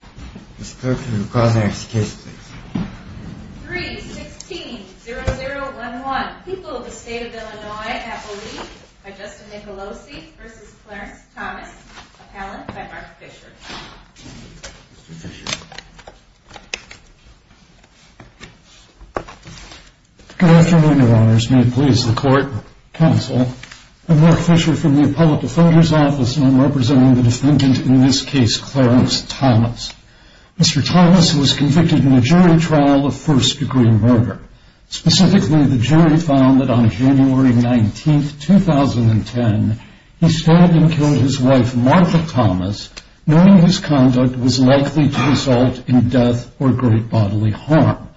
Good afternoon, your honors. May it please the court, counsel, I'm Mark Fisher from the public defender's office and I'm representing the defendant in this case, Clarence Thomas. Mr. Thomas was convicted in a jury trial of first degree murder. Specifically, the jury found that on January 19, 2010, he stabbed and killed his wife Martha Thomas, knowing his conduct was likely to result in death or great bodily harm.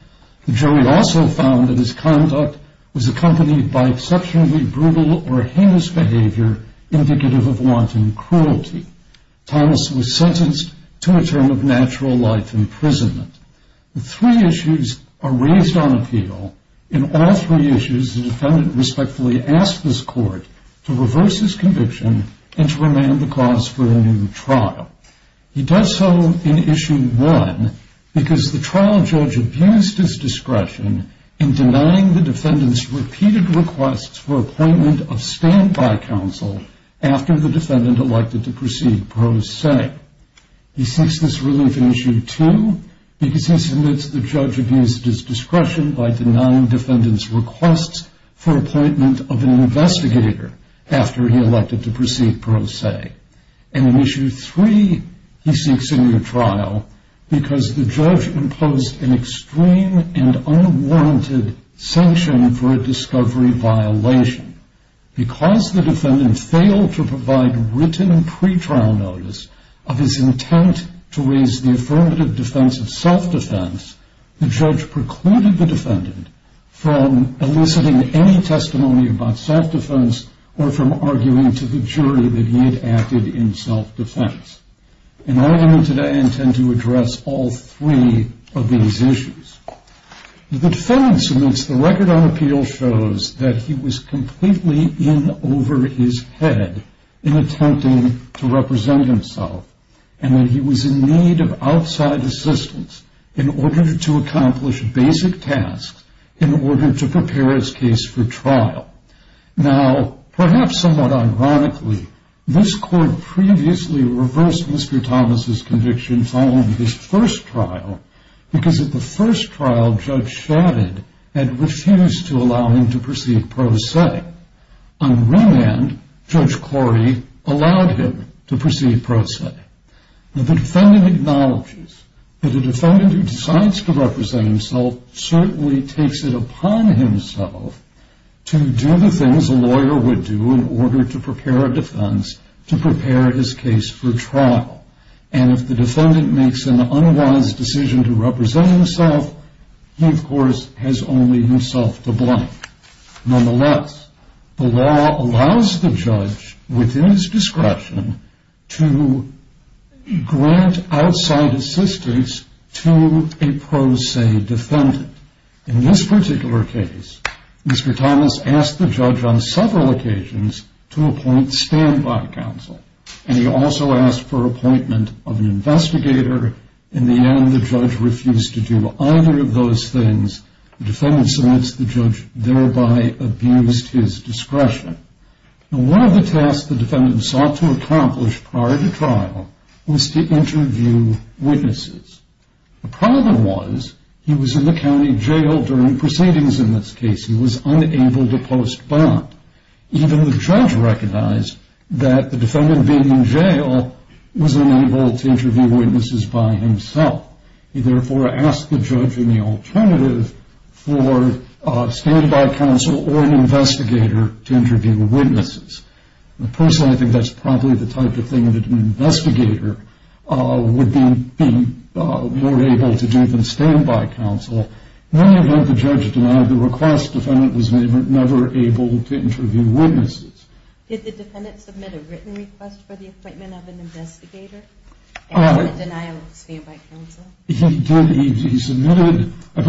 The jury also found that his conduct was accompanied by exceptionally brutal or heinous behavior indicative of wanton cruelty. Thomas was sentenced to a term of natural life imprisonment. The three issues are raised on appeal. In all three issues, the defendant respectfully asked this court to reverse his conviction and to remand the cause for a new trial. He does so in issue one because the trial judge abused his discretion in denying the defendant's repeated requests for appointment of standby counsel after the defendant elected to proceed pro se. He seeks this relief in issue two because he submits the judge abused his discretion by denying defendant's requests for appointment of an investigator after he elected to proceed pro se. And in issue three, he seeks a new trial because the judge imposed an extreme and unwarranted sanction for a discovery violation. Because the defendant failed to provide written pretrial notice of his intent to raise the affirmative defense of self-defense, the judge precluded the defendant from eliciting any testimony about self-defense or from arguing to the jury that he had acted in self-defense. And I intend to address all three of these issues. The defendant submits the record on appeal shows that he was completely in over his head in attempting to represent himself and that he was in need of outside assistance in order to accomplish basic tasks in order to prepare his case for trial. Now, perhaps somewhat ironically, this court previously reversed Mr. Thomas' conviction following his first trial because at the first trial, judge shouted and refused to allow him to proceed pro se. On the other hand, Judge Corey allowed him to proceed pro se. The defendant acknowledges that the defendant who decides to represent himself certainly takes it upon himself to do the things a lawyer would do in order to prepare a defense to prepare his case for trial. And if the defendant makes an unwise decision to represent himself, he of course has only himself to blame. Nonetheless, the law allows the judge within his Mr. Thomas asked the judge on several occasions to appoint standby counsel. And he also asked for appointment of an investigator. In the end, the judge refused to do either of those things. The defendant submits the judge thereby abused his discretion. Now, one of the tasks the defendant sought to accomplish prior to trial was to interview witnesses. The problem was he was in the jail and unable to post bond. Even the judge recognized that the defendant being in jail was unable to interview witnesses by himself. He therefore asked the judge in the alternative for standby counsel or an investigator to interview witnesses. Personally, I think that's probably the request. The defendant was never able to interview witnesses. Did the defendant submit a written request for the appointment of an investigator? He submitted a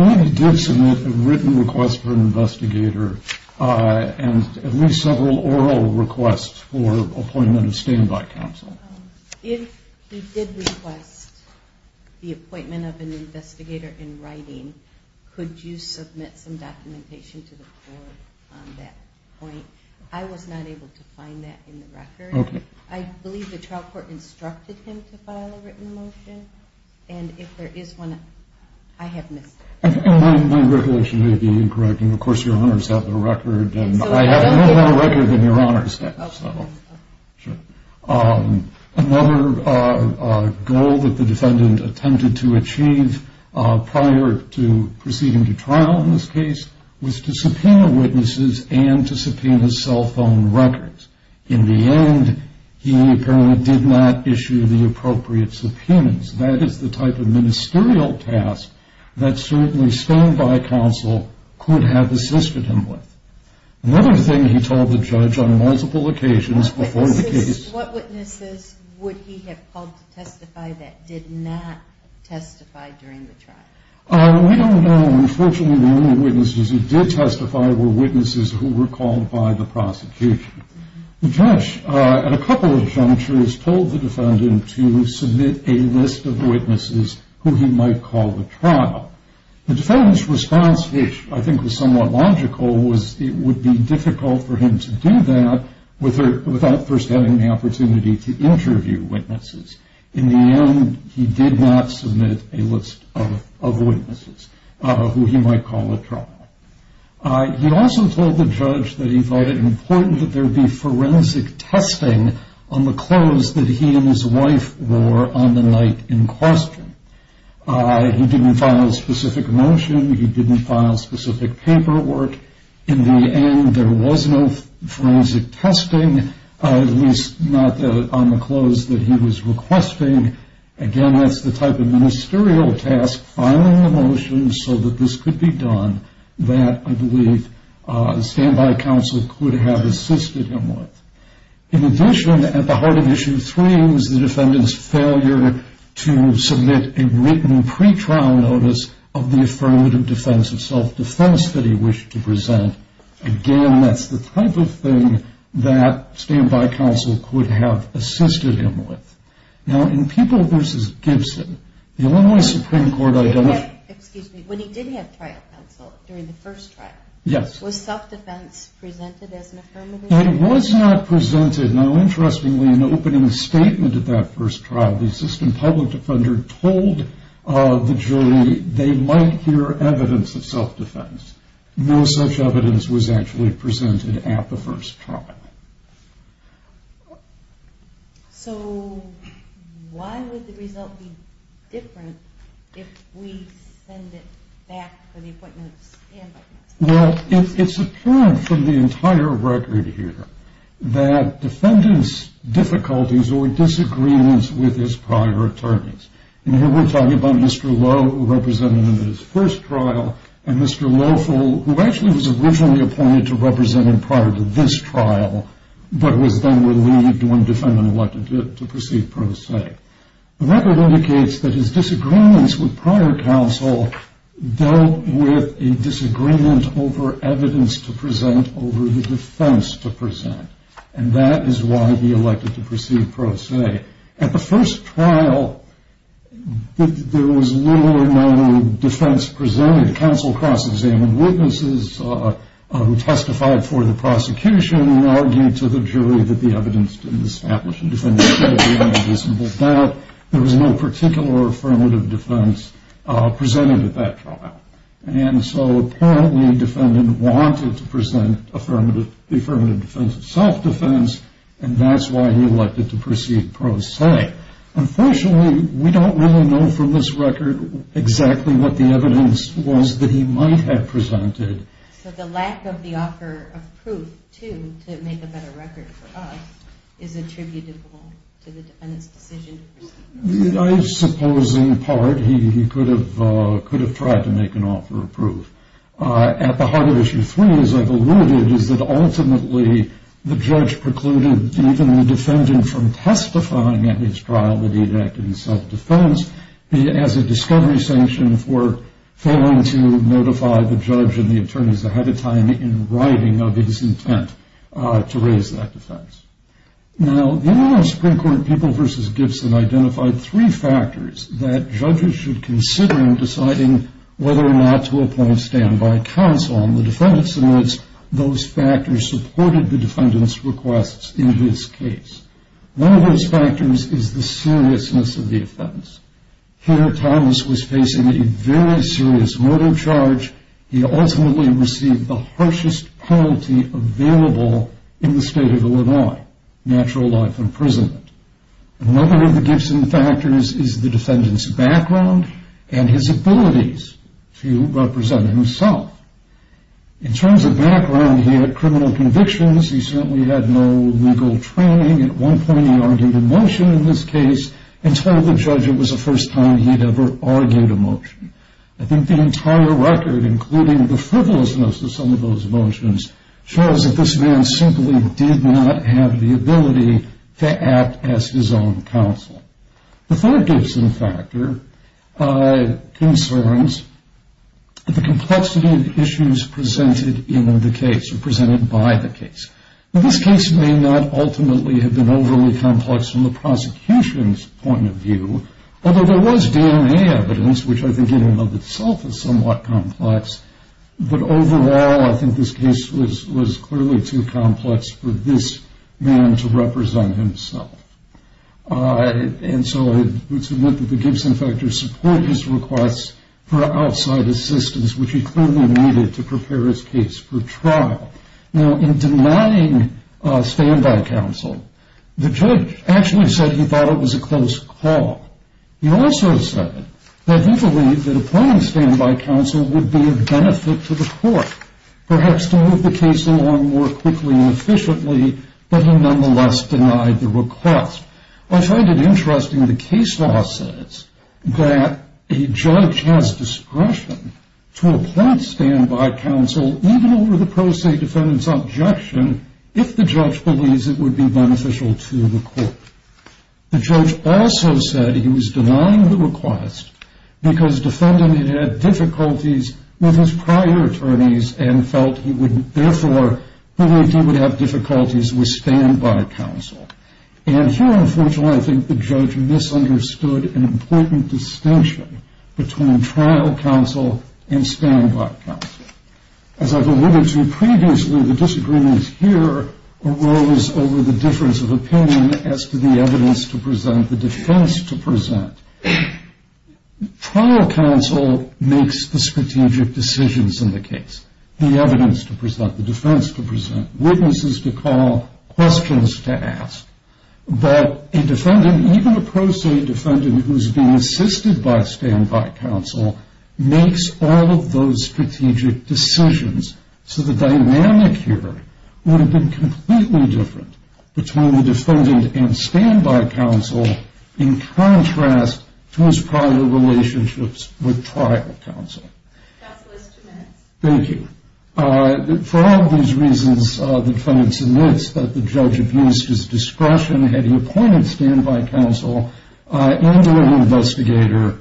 written request for an investigator and at least several oral requests for appointment of standby counsel. If he did request the appointment of an investigator in writing, could you submit some documentation to the court on that point? I was not able to find that in the record. I believe the trial court instructed him to file a written motion. And if there is one, I have missed it. My recollection may be incorrect. Of course, your honors have the record. I have a little more record than your honors have. Another goal that the defendant attempted to achieve prior to proceeding to trial in this case was to subpoena witnesses and to subpoena cell phone records. In the end, he apparently did not issue the appropriate subpoenas. That is the type of ministerial task that certainly standby counsel could have assisted him with. Another thing he told the judge on multiple occasions before the case... What witnesses would he have called to testify that did not testify during the trial? We don't know. Unfortunately, the only witnesses who did testify were witnesses who were called by the prosecution. The judge, at a couple of junctures, told the defendant to submit a list of witnesses who he might call to trial. The defendant's response, which I think was somewhat logical, was it would be difficult for him to do that without first having the opportunity to interview witnesses. In the end, he did not submit a list of witnesses who he might call to trial. He also told the judge that he thought it important that there be forensic testing on the clothes that he and his wife wore on the night in question. He didn't file a specific motion. He didn't file specific paperwork. In the end, there was no forensic testing, at least not on the clothes that he was requesting. Again, that's the type of ministerial task, filing a motion so that this could be done, that I believe standby counsel could have assisted him with. In addition, at the heart of issue three was the defendant's failure to submit a written pre-trial notice of the affirmative defense of self-defense that he wished to present. Again, that's the type of thing that standby counsel could have assisted him with. Now, in People v. Gibson, the Illinois Supreme Court identified... Excuse me. When he did have trial counsel during the first trial, was self-defense presented as an affirmative? It was not presented. Now, interestingly, in the opening statement of that first trial, the assistant public defender told the jury they might hear evidence of self-defense. No such evidence was actually presented at the first trial. So, why would the result be different if we send it back for the appointment of standby counsel? Well, it's apparent from the entire record here that defendants' difficulties or disagreements with his prior attorneys... And here we're talking about Mr. Lowe, who represented him at his first trial, and Mr. Loeffel, who actually was originally appointed to represent him prior to this trial, but was then relieved when defendant elected him to proceed pro se. The record indicates that his disagreements with prior counsel dealt with a disagreement over evidence to present over the defense to present. And that is why he elected to proceed pro se. At the first trial, there was little or no defense presented. We had counsel cross-examining witnesses who testified for the prosecution, and argued to the jury that the evidence didn't establish a defendant's credibility or reasonable doubt. There was no particular affirmative defense presented at that trial. And so, apparently, the defendant wanted to present the affirmative defense of self-defense, and that's why he elected to proceed pro se. Unfortunately, we don't really know from this record exactly what the evidence was that he might have presented. So the lack of the offer of proof, too, to make a better record for us is attributable to the defendant's decision to proceed pro se. I suppose, in part, he could have tried to make an offer of proof. At the heart of Issue 3, as I've alluded, is that ultimately the judge precluded even the defendant from testifying at his trial that he had acted in self-defense, as a discovery sanction for failing to notify the judge and the attorneys ahead of time in writing of his intent to raise that defense. Now, the U.S. Supreme Court People v. Gibson identified three factors that judges should consider in deciding whether or not to appoint standby counsel. And the defendant submits those factors supported the defendant's requests in his case. One of those factors is the seriousness of the offense. Here, Thomas was facing a very serious murder charge. He ultimately received the harshest penalty available in the state of Illinois, natural life imprisonment. Another of the Gibson factors is the defendant's background and his abilities to represent himself. In terms of background, he had criminal convictions. He certainly had no legal training. At one point, he argued a motion in this case and told the judge it was the first time he'd ever argued a motion. I think the entire record, including the frivolousness of some of those motions, shows that this man simply did not have the ability to act as his own counsel. The third Gibson factor concerns the complexity of the issues presented in the case or presented by the case. Now, this case may not ultimately have been overly complex from the prosecution's point of view, although there was DNA evidence, which I think in and of itself is somewhat complex. But overall, I think this case was clearly too complex for this man to represent himself. And so I would submit that the Gibson factors support his requests for outside assistance, which he clearly needed to prepare his case for trial. Now, in denying standby counsel, the judge actually said he thought it was a close call. He also said that he believed that appointing standby counsel would be of benefit to the court, perhaps to move the case along more quickly and efficiently, but he nonetheless denied the request. I find it interesting the case law says that a judge has discretion to appoint standby counsel, even over the pro se defendant's objection, if the judge believes it would be beneficial to the court. The judge also said he was denying the request because defendant had had difficulties with his prior attorneys and felt he would therefore believe he would have difficulties with standby counsel. And here, unfortunately, I think the judge misunderstood an important distinction between trial counsel and standby counsel. As I've alluded to previously, the disagreements here arose over the difference of opinion as to the evidence to present, the defense to present. Trial counsel makes the strategic decisions in the case, the evidence to present, the defense to present, witnesses to call, questions to ask. But a defendant, even a pro se defendant who's being assisted by standby counsel, makes all of those strategic decisions. So the dynamic here would have been completely different between the defendant and standby counsel in contrast to his prior relationships with trial counsel. Counsel is two minutes. Thank you. For all of these reasons, the defense admits that the judge abused his discretion. Had he appointed standby counsel and were an investigator,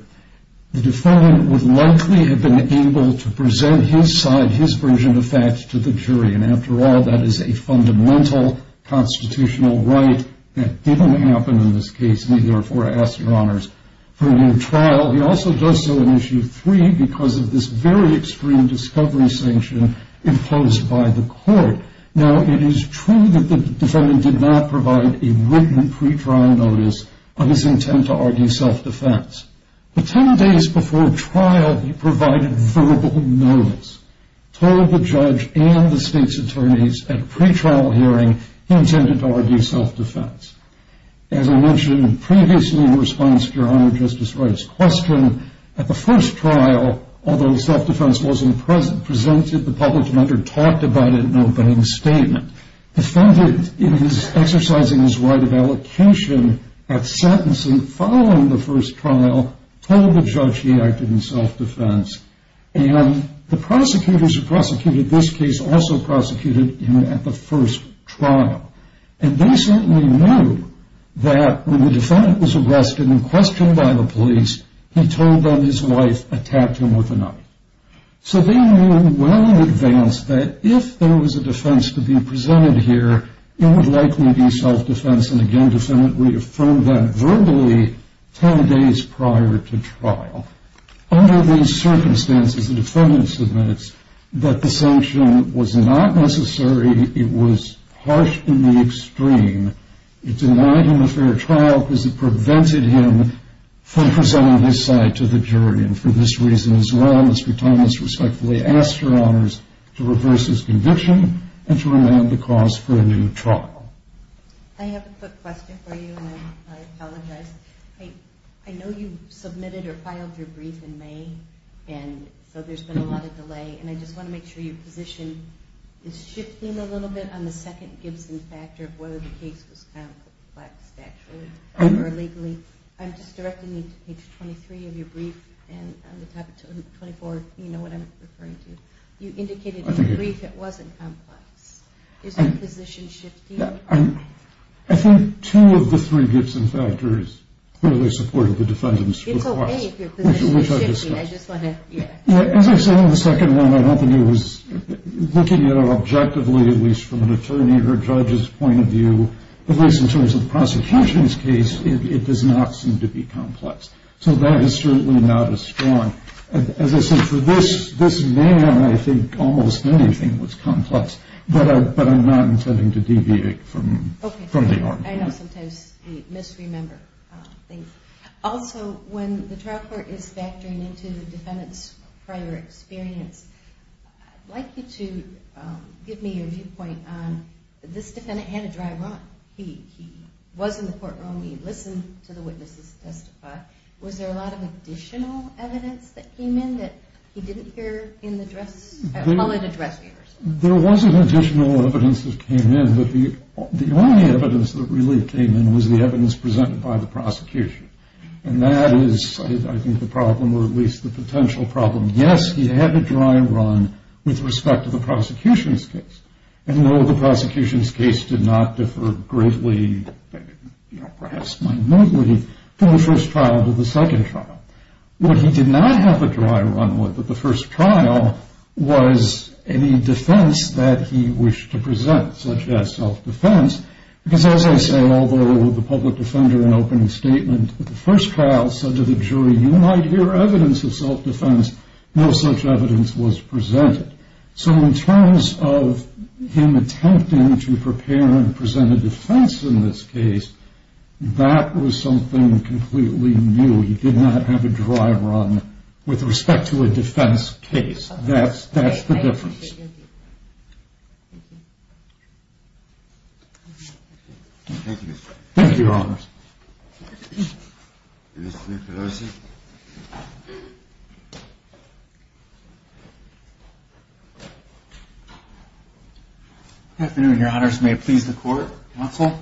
the defendant would likely have been able to present his side, his version of facts to the jury. And after all, that is a fundamental constitutional right. That didn't happen in this case. We therefore ask your honors for a new trial. Well, he also does so in issue three because of this very extreme discovery sanction imposed by the court. Now, it is true that the defendant did not provide a written pre-trial notice of his intent to argue self-defense. But 10 days before trial, he provided verbal notice, told the judge and the state's attorneys at a pre-trial hearing he intended to argue self-defense. As I mentioned previously in response to your honor, Justice Wright's question, at the first trial, although self-defense wasn't presented, the public defender talked about it in an obeying statement. The defendant, in his exercising his right of allocation at sentencing following the first trial, told the judge he acted in self-defense. And the prosecutors who prosecuted this case also prosecuted him at the first trial. And they certainly knew that when the defendant was arrested and questioned by the police, he told them his wife attacked him with a knife. So they knew well in advance that if there was a defense to be presented here, it would likely be self-defense, and again, the defendant reaffirmed that verbally 10 days prior to trial. Under these circumstances, the defendant admits that the sanction was not necessary. It was harsh in the extreme. It denied him a fair trial because it prevented him from presenting his side to the jury. And for this reason as well, Mr. Thomas respectfully asked for honors to reverse his conviction and to remand the cause for a new trial. I have a quick question for you, and I apologize. I know you submitted or filed your brief in May, and so there's been a lot of delay. And I just want to make sure your position is shifting a little bit on the second Gibson factor of whether the case was complexed actually or illegally. I'm just directing you to page 23 of your brief, and on the top of 24, you know what I'm referring to. You indicated in your brief it wasn't complex. Is your position shifting? I think two of the three Gibson factors clearly supported the defendant's request. It's okay if your position is shifting. As I said on the second one, I don't think it was looking at it objectively, at least from an attorney or judge's point of view. At least in terms of the prosecution's case, it does not seem to be complex. So that is certainly not as strong. As I said, for this man, I think almost anything was complex, but I'm not intending to deviate from the argument. I know sometimes we misremember things. Also, when the trial court is factoring into the defendant's prior experience, I'd like you to give me your viewpoint on this defendant had a dry run. He was in the courtroom. He listened to the witnesses testify. Was there a lot of additional evidence that came in that he didn't hear in the address? Call it address. There wasn't additional evidence that came in, but the only evidence that really came in was the evidence presented by the prosecution. And that is, I think, the problem, or at least the potential problem. Yes, he had a dry run with respect to the prosecution's case. And, no, the prosecution's case did not differ greatly, perhaps minutely, from the first trial to the second trial. What he did not have a dry run with at the first trial was any defense that he wished to present, such as self-defense, because, as I say, although the public defender in opening statement at the first trial said to the jury, you might hear evidence of self-defense, no such evidence was presented. So in terms of him attempting to prepare and present a defense in this case, that was something completely new. He did not have a dry run with respect to a defense case. That's the difference. Thank you, Your Honors. Good afternoon, Your Honors. May it please the Court, counsel?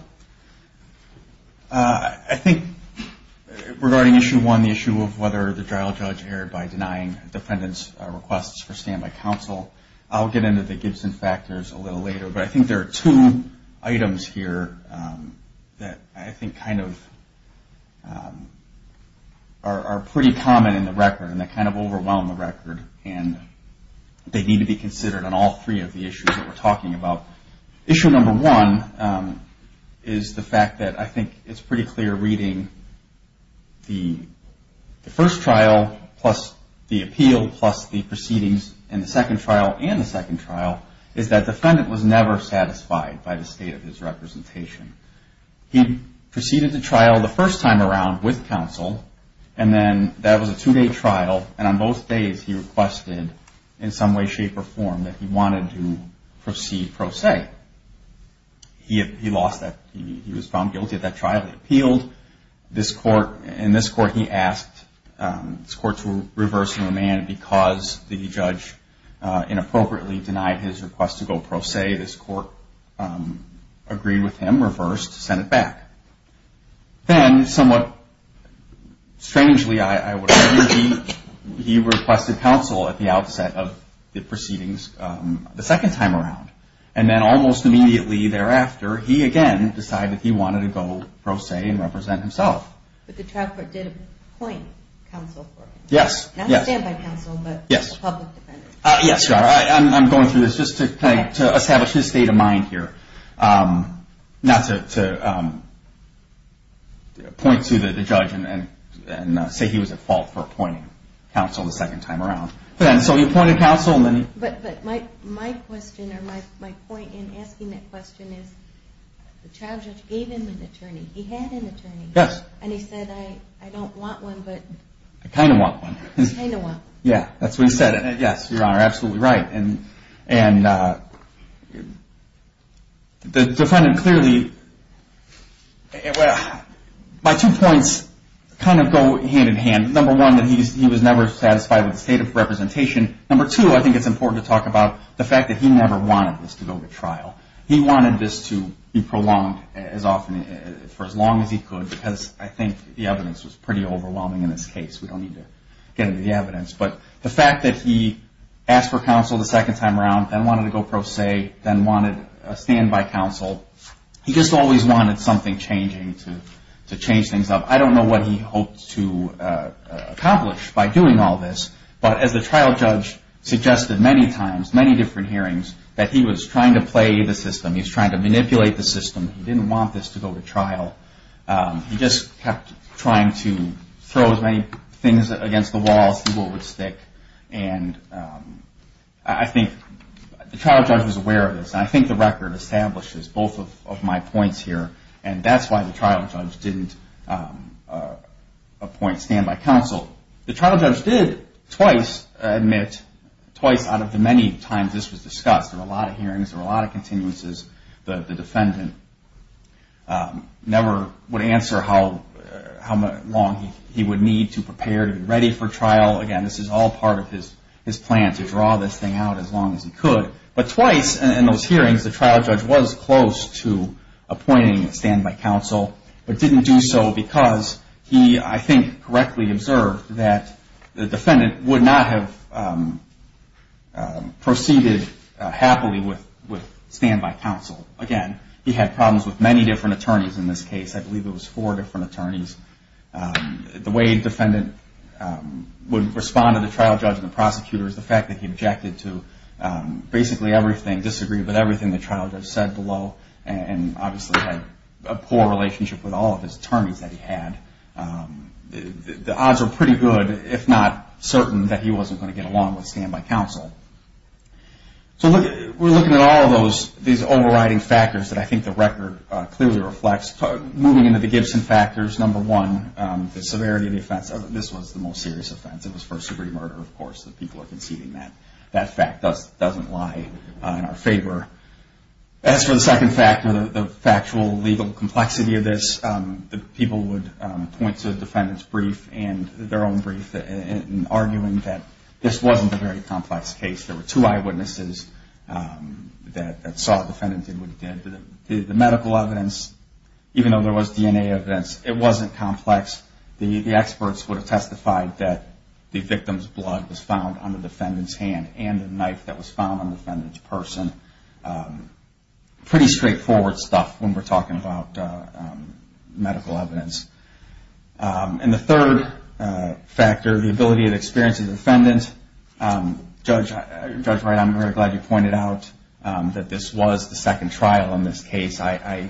I think regarding issue one, the issue of whether the trial judge erred by denying defendants' requests for standby counsel, I'll get into the Gibson factors a little later, but I think there are two items here that I think kind of are pretty common in the record and that kind of overwhelm the record, and they need to be considered on all three of the issues that we're talking about. Now, issue number one is the fact that I think it's pretty clear reading the first trial plus the appeal plus the proceedings in the second trial and the second trial, is that defendant was never satisfied by the state of his representation. He proceeded to trial the first time around with counsel, and then that was a two-day trial, and on both days he requested in some way, shape, or form that he wanted to proceed pro se. He lost that. He was found guilty of that trial. He appealed. In this court, he asked this court to reverse the remand because the judge inappropriately denied his request to go pro se. This court agreed with him, reversed, sent it back. Then somewhat strangely, I would argue, he requested counsel at the outset of the proceedings the second time around, and then almost immediately thereafter, he again decided he wanted to go pro se and represent himself. But the trial court did appoint counsel for him. Yes, yes. Not standby counsel, but a public defender. Yes, I'm going through this just to establish his state of mind here, not to point to the judge and say he was at fault for appointing counsel the second time around. So he appointed counsel. But my question or my point in asking that question is the trial judge gave him an attorney. He had an attorney. Yes. And he said, I don't want one, but I kind of want one. Kind of want one. Yeah, that's what he said. Yes, Your Honor, absolutely right. And the defendant clearly, my two points kind of go hand in hand. Number one, that he was never satisfied with the state of representation. Number two, I think it's important to talk about the fact that he never wanted this to go to trial. He wanted this to be prolonged for as long as he could because I think the evidence was pretty overwhelming in this case. But the fact that he asked for counsel the second time around, then wanted to go pro se, then wanted a standby counsel, he just always wanted something changing to change things up. I don't know what he hoped to accomplish by doing all this, but as the trial judge suggested many times, many different hearings, that he was trying to play the system. He was trying to manipulate the system. He didn't want this to go to trial. He just kept trying to throw as many things against the wall, see what would stick. And I think the trial judge was aware of this, and I think the record establishes both of my points here, and that's why the trial judge didn't appoint standby counsel. The trial judge did twice admit, twice out of the many times this was discussed, there were a lot of hearings, there were a lot of continuances, the defendant never would answer how long he would need to prepare to be ready for trial. Again, this is all part of his plan to draw this thing out as long as he could. But twice in those hearings, the trial judge was close to appointing standby counsel, but didn't do so because he, I think, correctly observed that the defendant would not have proceeded happily with standby counsel. Again, he had problems with many different attorneys in this case. I believe it was four different attorneys. The way the defendant would respond to the trial judge and the prosecutor is the fact that he objected to basically everything, disagreed with everything the trial judge said below, and obviously had a poor relationship with all of his attorneys that he had. The odds are pretty good, if not certain, that he wasn't going to get along with standby counsel. So we're looking at all of these overriding factors that I think the record clearly reflects. Moving into the Gibson factors, number one, the severity of the offense. This was the most serious offense. It was first degree murder, of course, and people are conceding that. That fact doesn't lie in our favor. As for the second factor, the factual legal complexity of this, the people would point to the defendant's brief and their own brief in arguing that this wasn't a very complex case. There were two eyewitnesses that saw the defendant did what he did. The medical evidence, even though there was DNA evidence, it wasn't complex. The experts would have testified that the victim's blood was found on the defendant's hand and the knife that was found on the defendant's person. Pretty straightforward stuff when we're talking about medical evidence. And the third factor, the ability and experience of the defendant. Judge Wright, I'm very glad you pointed out that this was the second trial in this case. I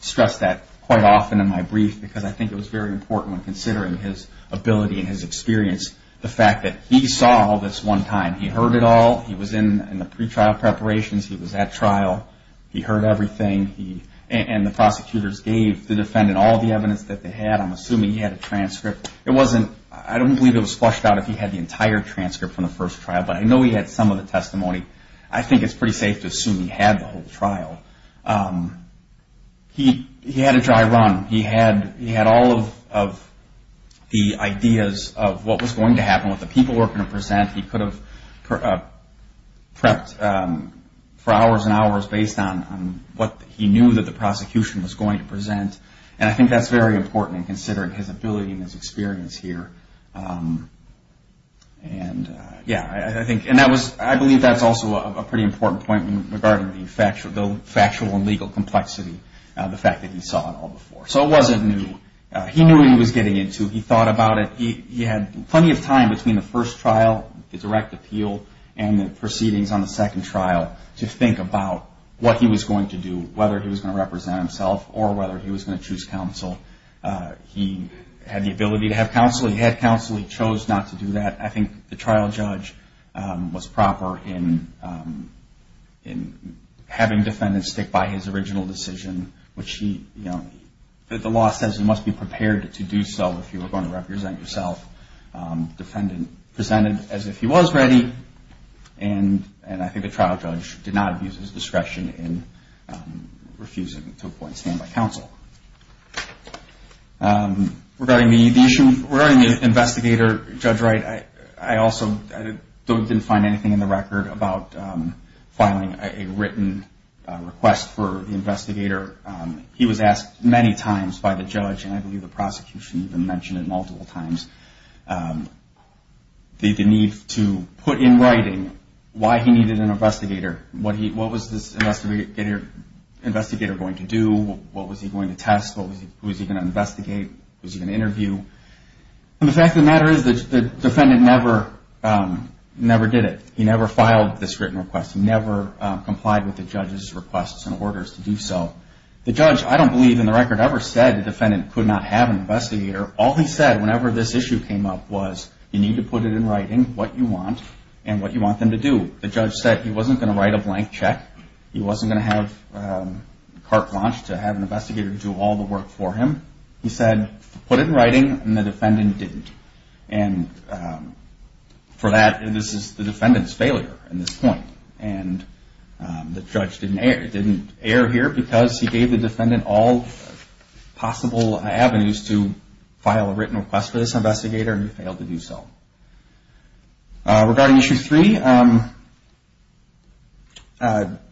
stress that quite often in my brief because I think it was very important when considering his ability and his experience, the fact that he saw all this one time. He heard it all. He was in the pretrial preparations. He was at trial. He heard everything. And the prosecutors gave the defendant all the evidence that they had. I'm assuming he had a transcript. I don't believe it was flushed out if he had the entire transcript from the first trial, but I know he had some of the testimony. I think it's pretty safe to assume he had the whole trial. He had a dry run. He had all of the ideas of what was going to happen, what the people were going to present. He could have prepped for hours and hours based on what he knew that the prosecution was going to present. And I think that's very important in considering his ability and his experience here. And, yeah, I believe that's also a pretty important point regarding the factual and legal complexity of the fact that he saw it all before. So it wasn't new. He knew what he was getting into. He thought about it. He had plenty of time between the first trial, the direct appeal, and the proceedings on the second trial to think about what he was going to do, whether he was going to represent himself or whether he was going to choose counsel. He had the ability to have counsel. He had counsel. He chose not to do that. I think the trial judge was proper in having defendants stick by his original decision, which he, you know, the law says you must be prepared to do so if you are going to represent yourself. The defendant presented as if he was ready, and I think the trial judge did not abuse his discretion in refusing to appoint stand-by counsel. Regarding the investigator, Judge Wright, I also didn't find anything in the record about filing a written request for the investigator. He was asked many times by the judge, and I believe the prosecution even mentioned it multiple times, the need to put in writing why he needed an investigator. What was this investigator going to do? What was he going to test? Who was he going to investigate? Was he going to interview? And the fact of the matter is the defendant never did it. He never filed this written request. He never complied with the judge's requests and orders to do so. The judge, I don't believe in the record ever said the defendant could not have an investigator. All he said whenever this issue came up was you need to put it in writing what you want and what you want them to do. The judge said he wasn't going to write a blank check. He wasn't going to have CART launched to have an investigator do all the work for him. He said put it in writing, and the defendant didn't. And for that, this is the defendant's failure at this point. And the judge didn't err here because he gave the defendant all possible avenues to file a written request for this investigator, and he failed to do so. Regarding Issue 3,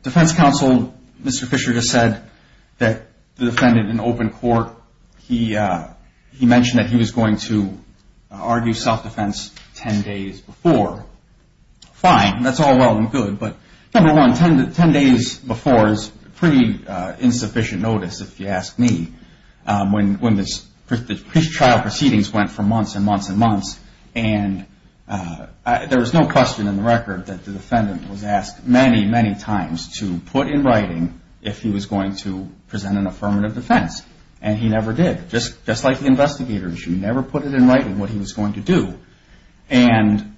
Defense Counsel Mr. Fisher just said that the defendant in open court, he mentioned that he was going to argue self-defense 10 days before. Fine, that's all well and good, but number one, 10 days before is pretty insufficient notice if you ask me. When the trial proceedings went for months and months and months, and there was no question in the record that the defendant was asked many, many times to put in writing if he was going to present an affirmative defense, and he never did. Just like the investigators, you never put it in writing what he was going to do. And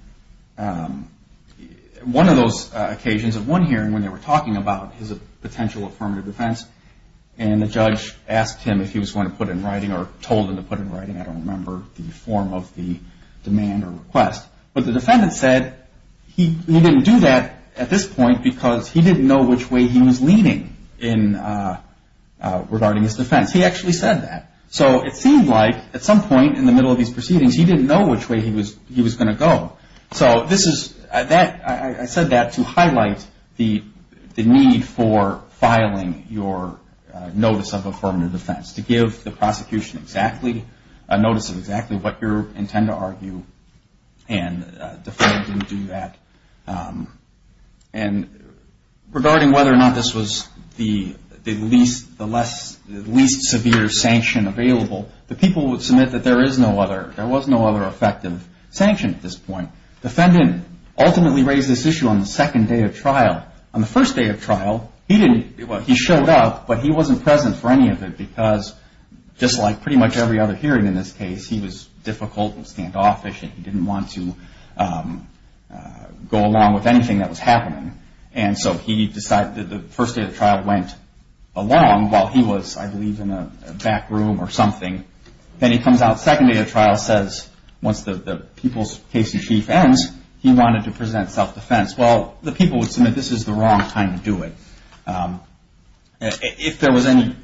one of those occasions at one hearing when they were talking about his potential affirmative defense, and the judge asked him if he was going to put in writing or told him to put in writing, I don't remember the form of the demand or request, but the defendant said he didn't do that at this point because he didn't know which way he was leaning regarding his defense. He actually said that. So it seemed like at some point in the middle of these proceedings he didn't know which way he was going to go. So I said that to highlight the need for filing your notice of affirmative defense, to give the prosecution a notice of exactly what you intend to argue, and the defendant didn't do that. And regarding whether or not this was the least severe sanction available, the people would submit that there was no other effective sanction at this point. The defendant ultimately raised this issue on the second day of trial. But on the first day of trial, he showed up, but he wasn't present for any of it because just like pretty much every other hearing in this case, he was difficult and standoffish and he didn't want to go along with anything that was happening. And so he decided that the first day of trial went along while he was, I believe, in a back room or something. Then he comes out the second day of trial and says once the people's case in chief ends, he wanted to present self-defense. Well, the people would submit this is the wrong time to do it. If there was any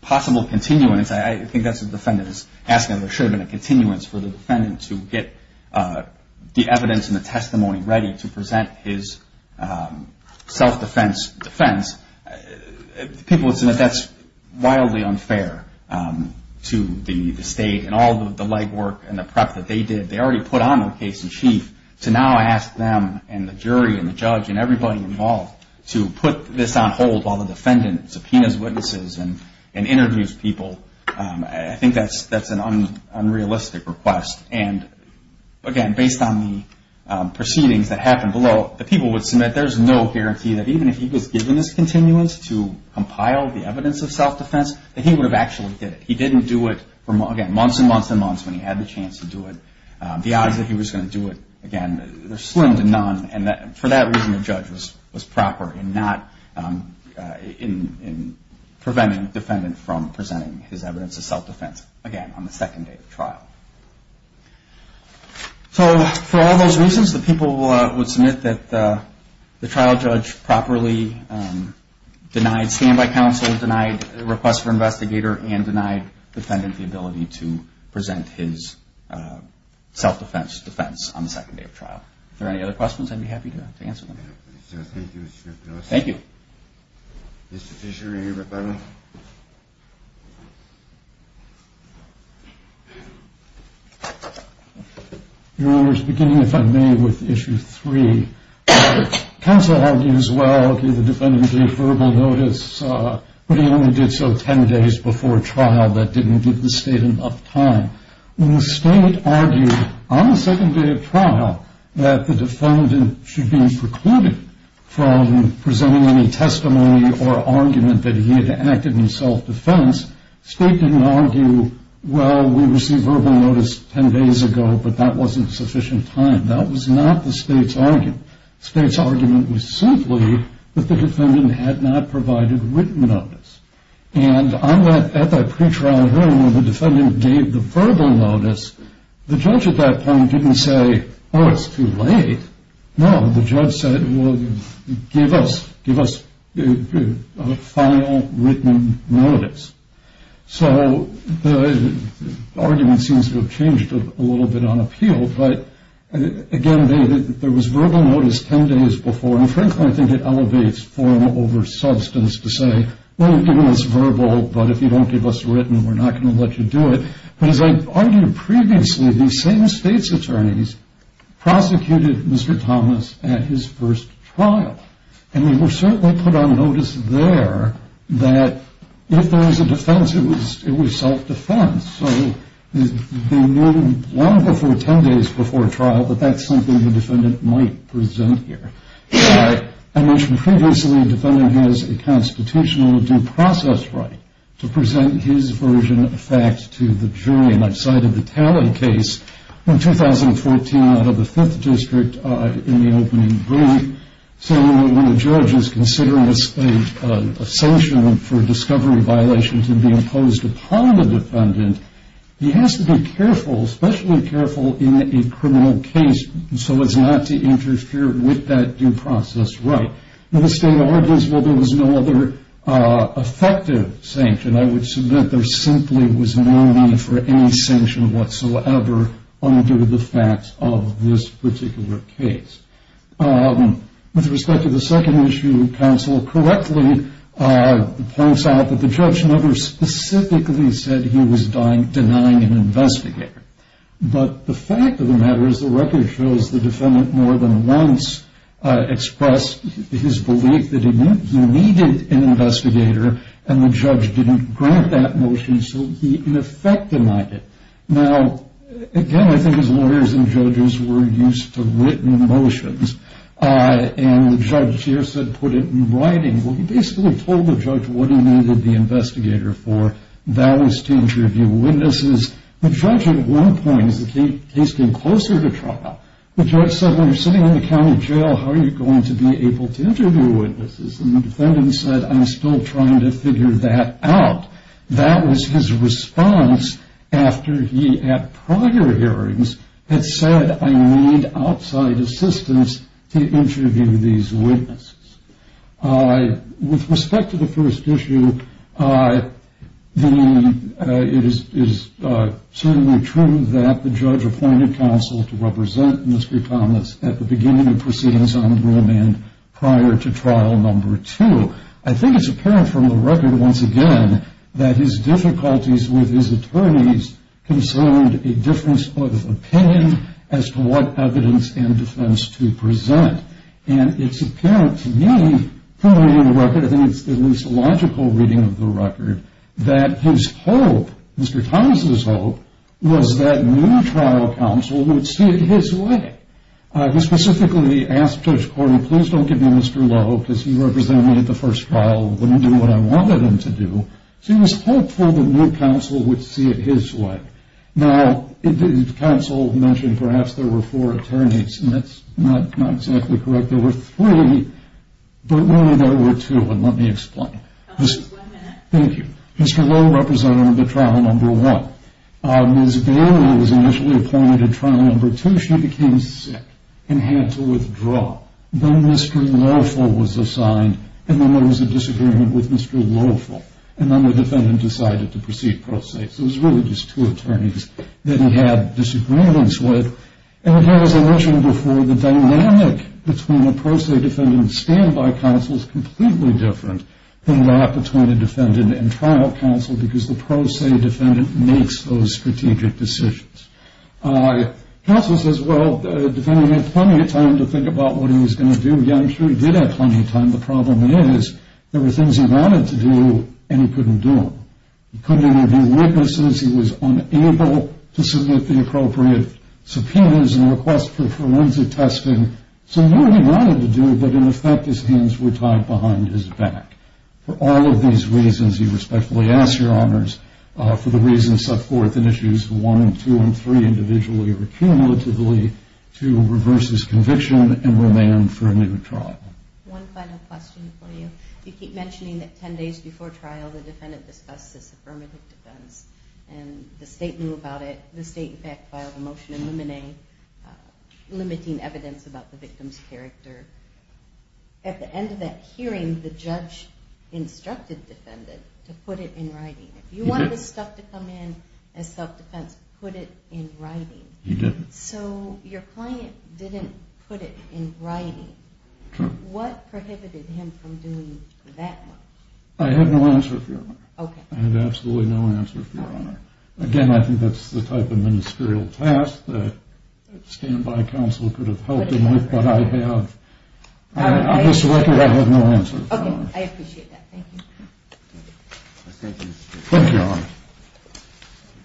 possible continuance, I think that's what the defendant is asking. There should have been a continuance for the defendant to get the evidence and the testimony ready to present his self-defense defense. People would submit that's wildly unfair to the state and all the legwork and the prep that they did. They already put on the case in chief to now ask them and the jury and the judge and everybody involved to put this on hold while the defendant subpoenas witnesses and interviews people. I think that's an unrealistic request. And again, based on the proceedings that happened below, the people would submit there's no guarantee that even if he was given this continuance to compile the evidence of self-defense, that he would have actually did it. He didn't do it for, again, months and months and months when he had the chance to do it. The odds that he was going to do it, again, they're slim to none. And for that reason, the judge was proper in preventing the defendant from presenting his evidence of self-defense, again, on the second day of trial. So for all those reasons, the people would submit that the trial judge properly denied standby counsel, denied request for investigator, and denied the defendant the ability to present his self-defense defense on the second day of trial. If there are any other questions, I'd be happy to answer them. Thank you. Mr. Fisher, are you here by mail? Your Honor, beginning if I may with issue three. Counsel argues, well, the defendant gave verbal notice, but he only did so ten days before trial. That didn't give the state enough time. When the state argued on the second day of trial that the defendant should be precluded from presenting any testimony or argument that he had acted in self-defense, state didn't argue, well, we received verbal notice ten days ago, but that wasn't sufficient time. That was not the state's argument. The state's argument was simply that the defendant had not provided written notice. And at that pre-trial hearing where the defendant gave the verbal notice, the judge at that point didn't say, oh, it's too late. No, the judge said, well, give us a final written notice. So the argument seems to have changed a little bit on appeal. But, again, there was verbal notice ten days before. And, frankly, I think it elevates form over substance to say, well, you've given us verbal, but if you don't give us written, we're not going to let you do it. But as I argued previously, the same state's attorneys prosecuted Mr. Thomas at his first trial. And they certainly put on notice there that if there was a defense, it was self-defense. So they knew long before ten days before trial that that's something the defendant might present here. But I mentioned previously the defendant has a constitutional due process right to present his version of facts to the jury outside of the tally case in 2014 out of the Fifth District in the opening brief. So when a judge is considering a sanction for a discovery violation to be imposed upon the defendant, he has to be careful, especially careful in a criminal case, so as not to interfere with that due process right. And the state argues, well, there was no other effective sanction. I would submit there simply was no need for any sanction whatsoever under the facts of this particular case. With respect to the second issue, counsel correctly points out that the judge never specifically said he was denying an investigator. But the fact of the matter is the record shows the defendant more than once expressed his belief that he needed an investigator, and the judge didn't grant that motion, so he in effect denied it. Now, again, I think as lawyers and judges, we're used to written motions. And the judge here said put it in writing. Well, he basically told the judge what he needed the investigator for. That was to interview witnesses. The judge at one point, as the case came closer to trial, the judge said when you're sitting in the county jail, how are you going to be able to interview witnesses? And the defendant said I'm still trying to figure that out. That was his response after he, at prior hearings, had said I need outside assistance to interview these witnesses. With respect to the first issue, it is certainly true that the judge appointed counsel to represent Mr. Thomas at the beginning of proceedings on rule end prior to trial number two. I think it's apparent from the record once again that his difficulties with his attorneys concerned a difference of opinion as to what evidence and defense to present. And it's apparent to me, clearly in the record, I think it's at least a logical reading of the record, that his hope, Mr. Thomas' hope, was that new trial counsel would see it his way. He specifically asked Judge Corey, please don't give me Mr. Lowe because he represented me at the first trial, wouldn't do what I wanted him to do. So he was hopeful the new counsel would see it his way. Now, counsel mentioned perhaps there were four attorneys, and that's not exactly correct. There were three, but really there were two, and let me explain. Just one minute. Thank you. Mr. Lowe represented him at trial number one. Ms. Bailey was initially appointed at trial number two. She became sick and had to withdraw. Then Mr. Loweful was assigned, and then there was a disagreement with Mr. Loweful, and then the defendant decided to proceed pro se. So it was really just two attorneys that he had disagreements with. And again, as I mentioned before, the dynamic between a pro se defendant and standby counsel is completely different than that between a defendant and trial counsel because the pro se defendant makes those strategic decisions. Counsel says, well, the defendant had plenty of time to think about what he was going to do. Yeah, I'm sure he did have plenty of time. The problem is there were things he wanted to do and he couldn't do them. He couldn't interview witnesses. He was unable to submit the appropriate subpoenas and request for forensic testing. So he knew what he wanted to do, but in effect his hands were tied behind his back. For all of these reasons, he respectfully asks your honors for the reasons set forth in Issues 1 and 2 and 3 individually or cumulatively to reverse his conviction and remain for a new trial. One final question for you. You keep mentioning that 10 days before trial the defendant discussed this affirmative defense and the state knew about it. The state, in fact, filed a motion eliminating evidence about the victim's character. At the end of that hearing, the judge instructed the defendant to put it in writing. If you want this stuff to come in as self-defense, put it in writing. He didn't. So your client didn't put it in writing. What prohibited him from doing that much? I have no answer for you, Your Honor. I have absolutely no answer for you, Your Honor. Again, I think that's the type of ministerial task that a standby counsel could have helped him with, but I have, on this record, I have no answer for you, Your Honor. Okay, I appreciate that. Thank you. Thank you, Your Honor.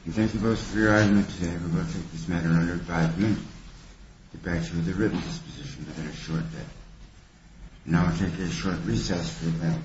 Thank you both for your argument today. We will take this matter under five minutes. The bench with the ribbon is positioned at a short bed. Now we'll take a short recess for the bench.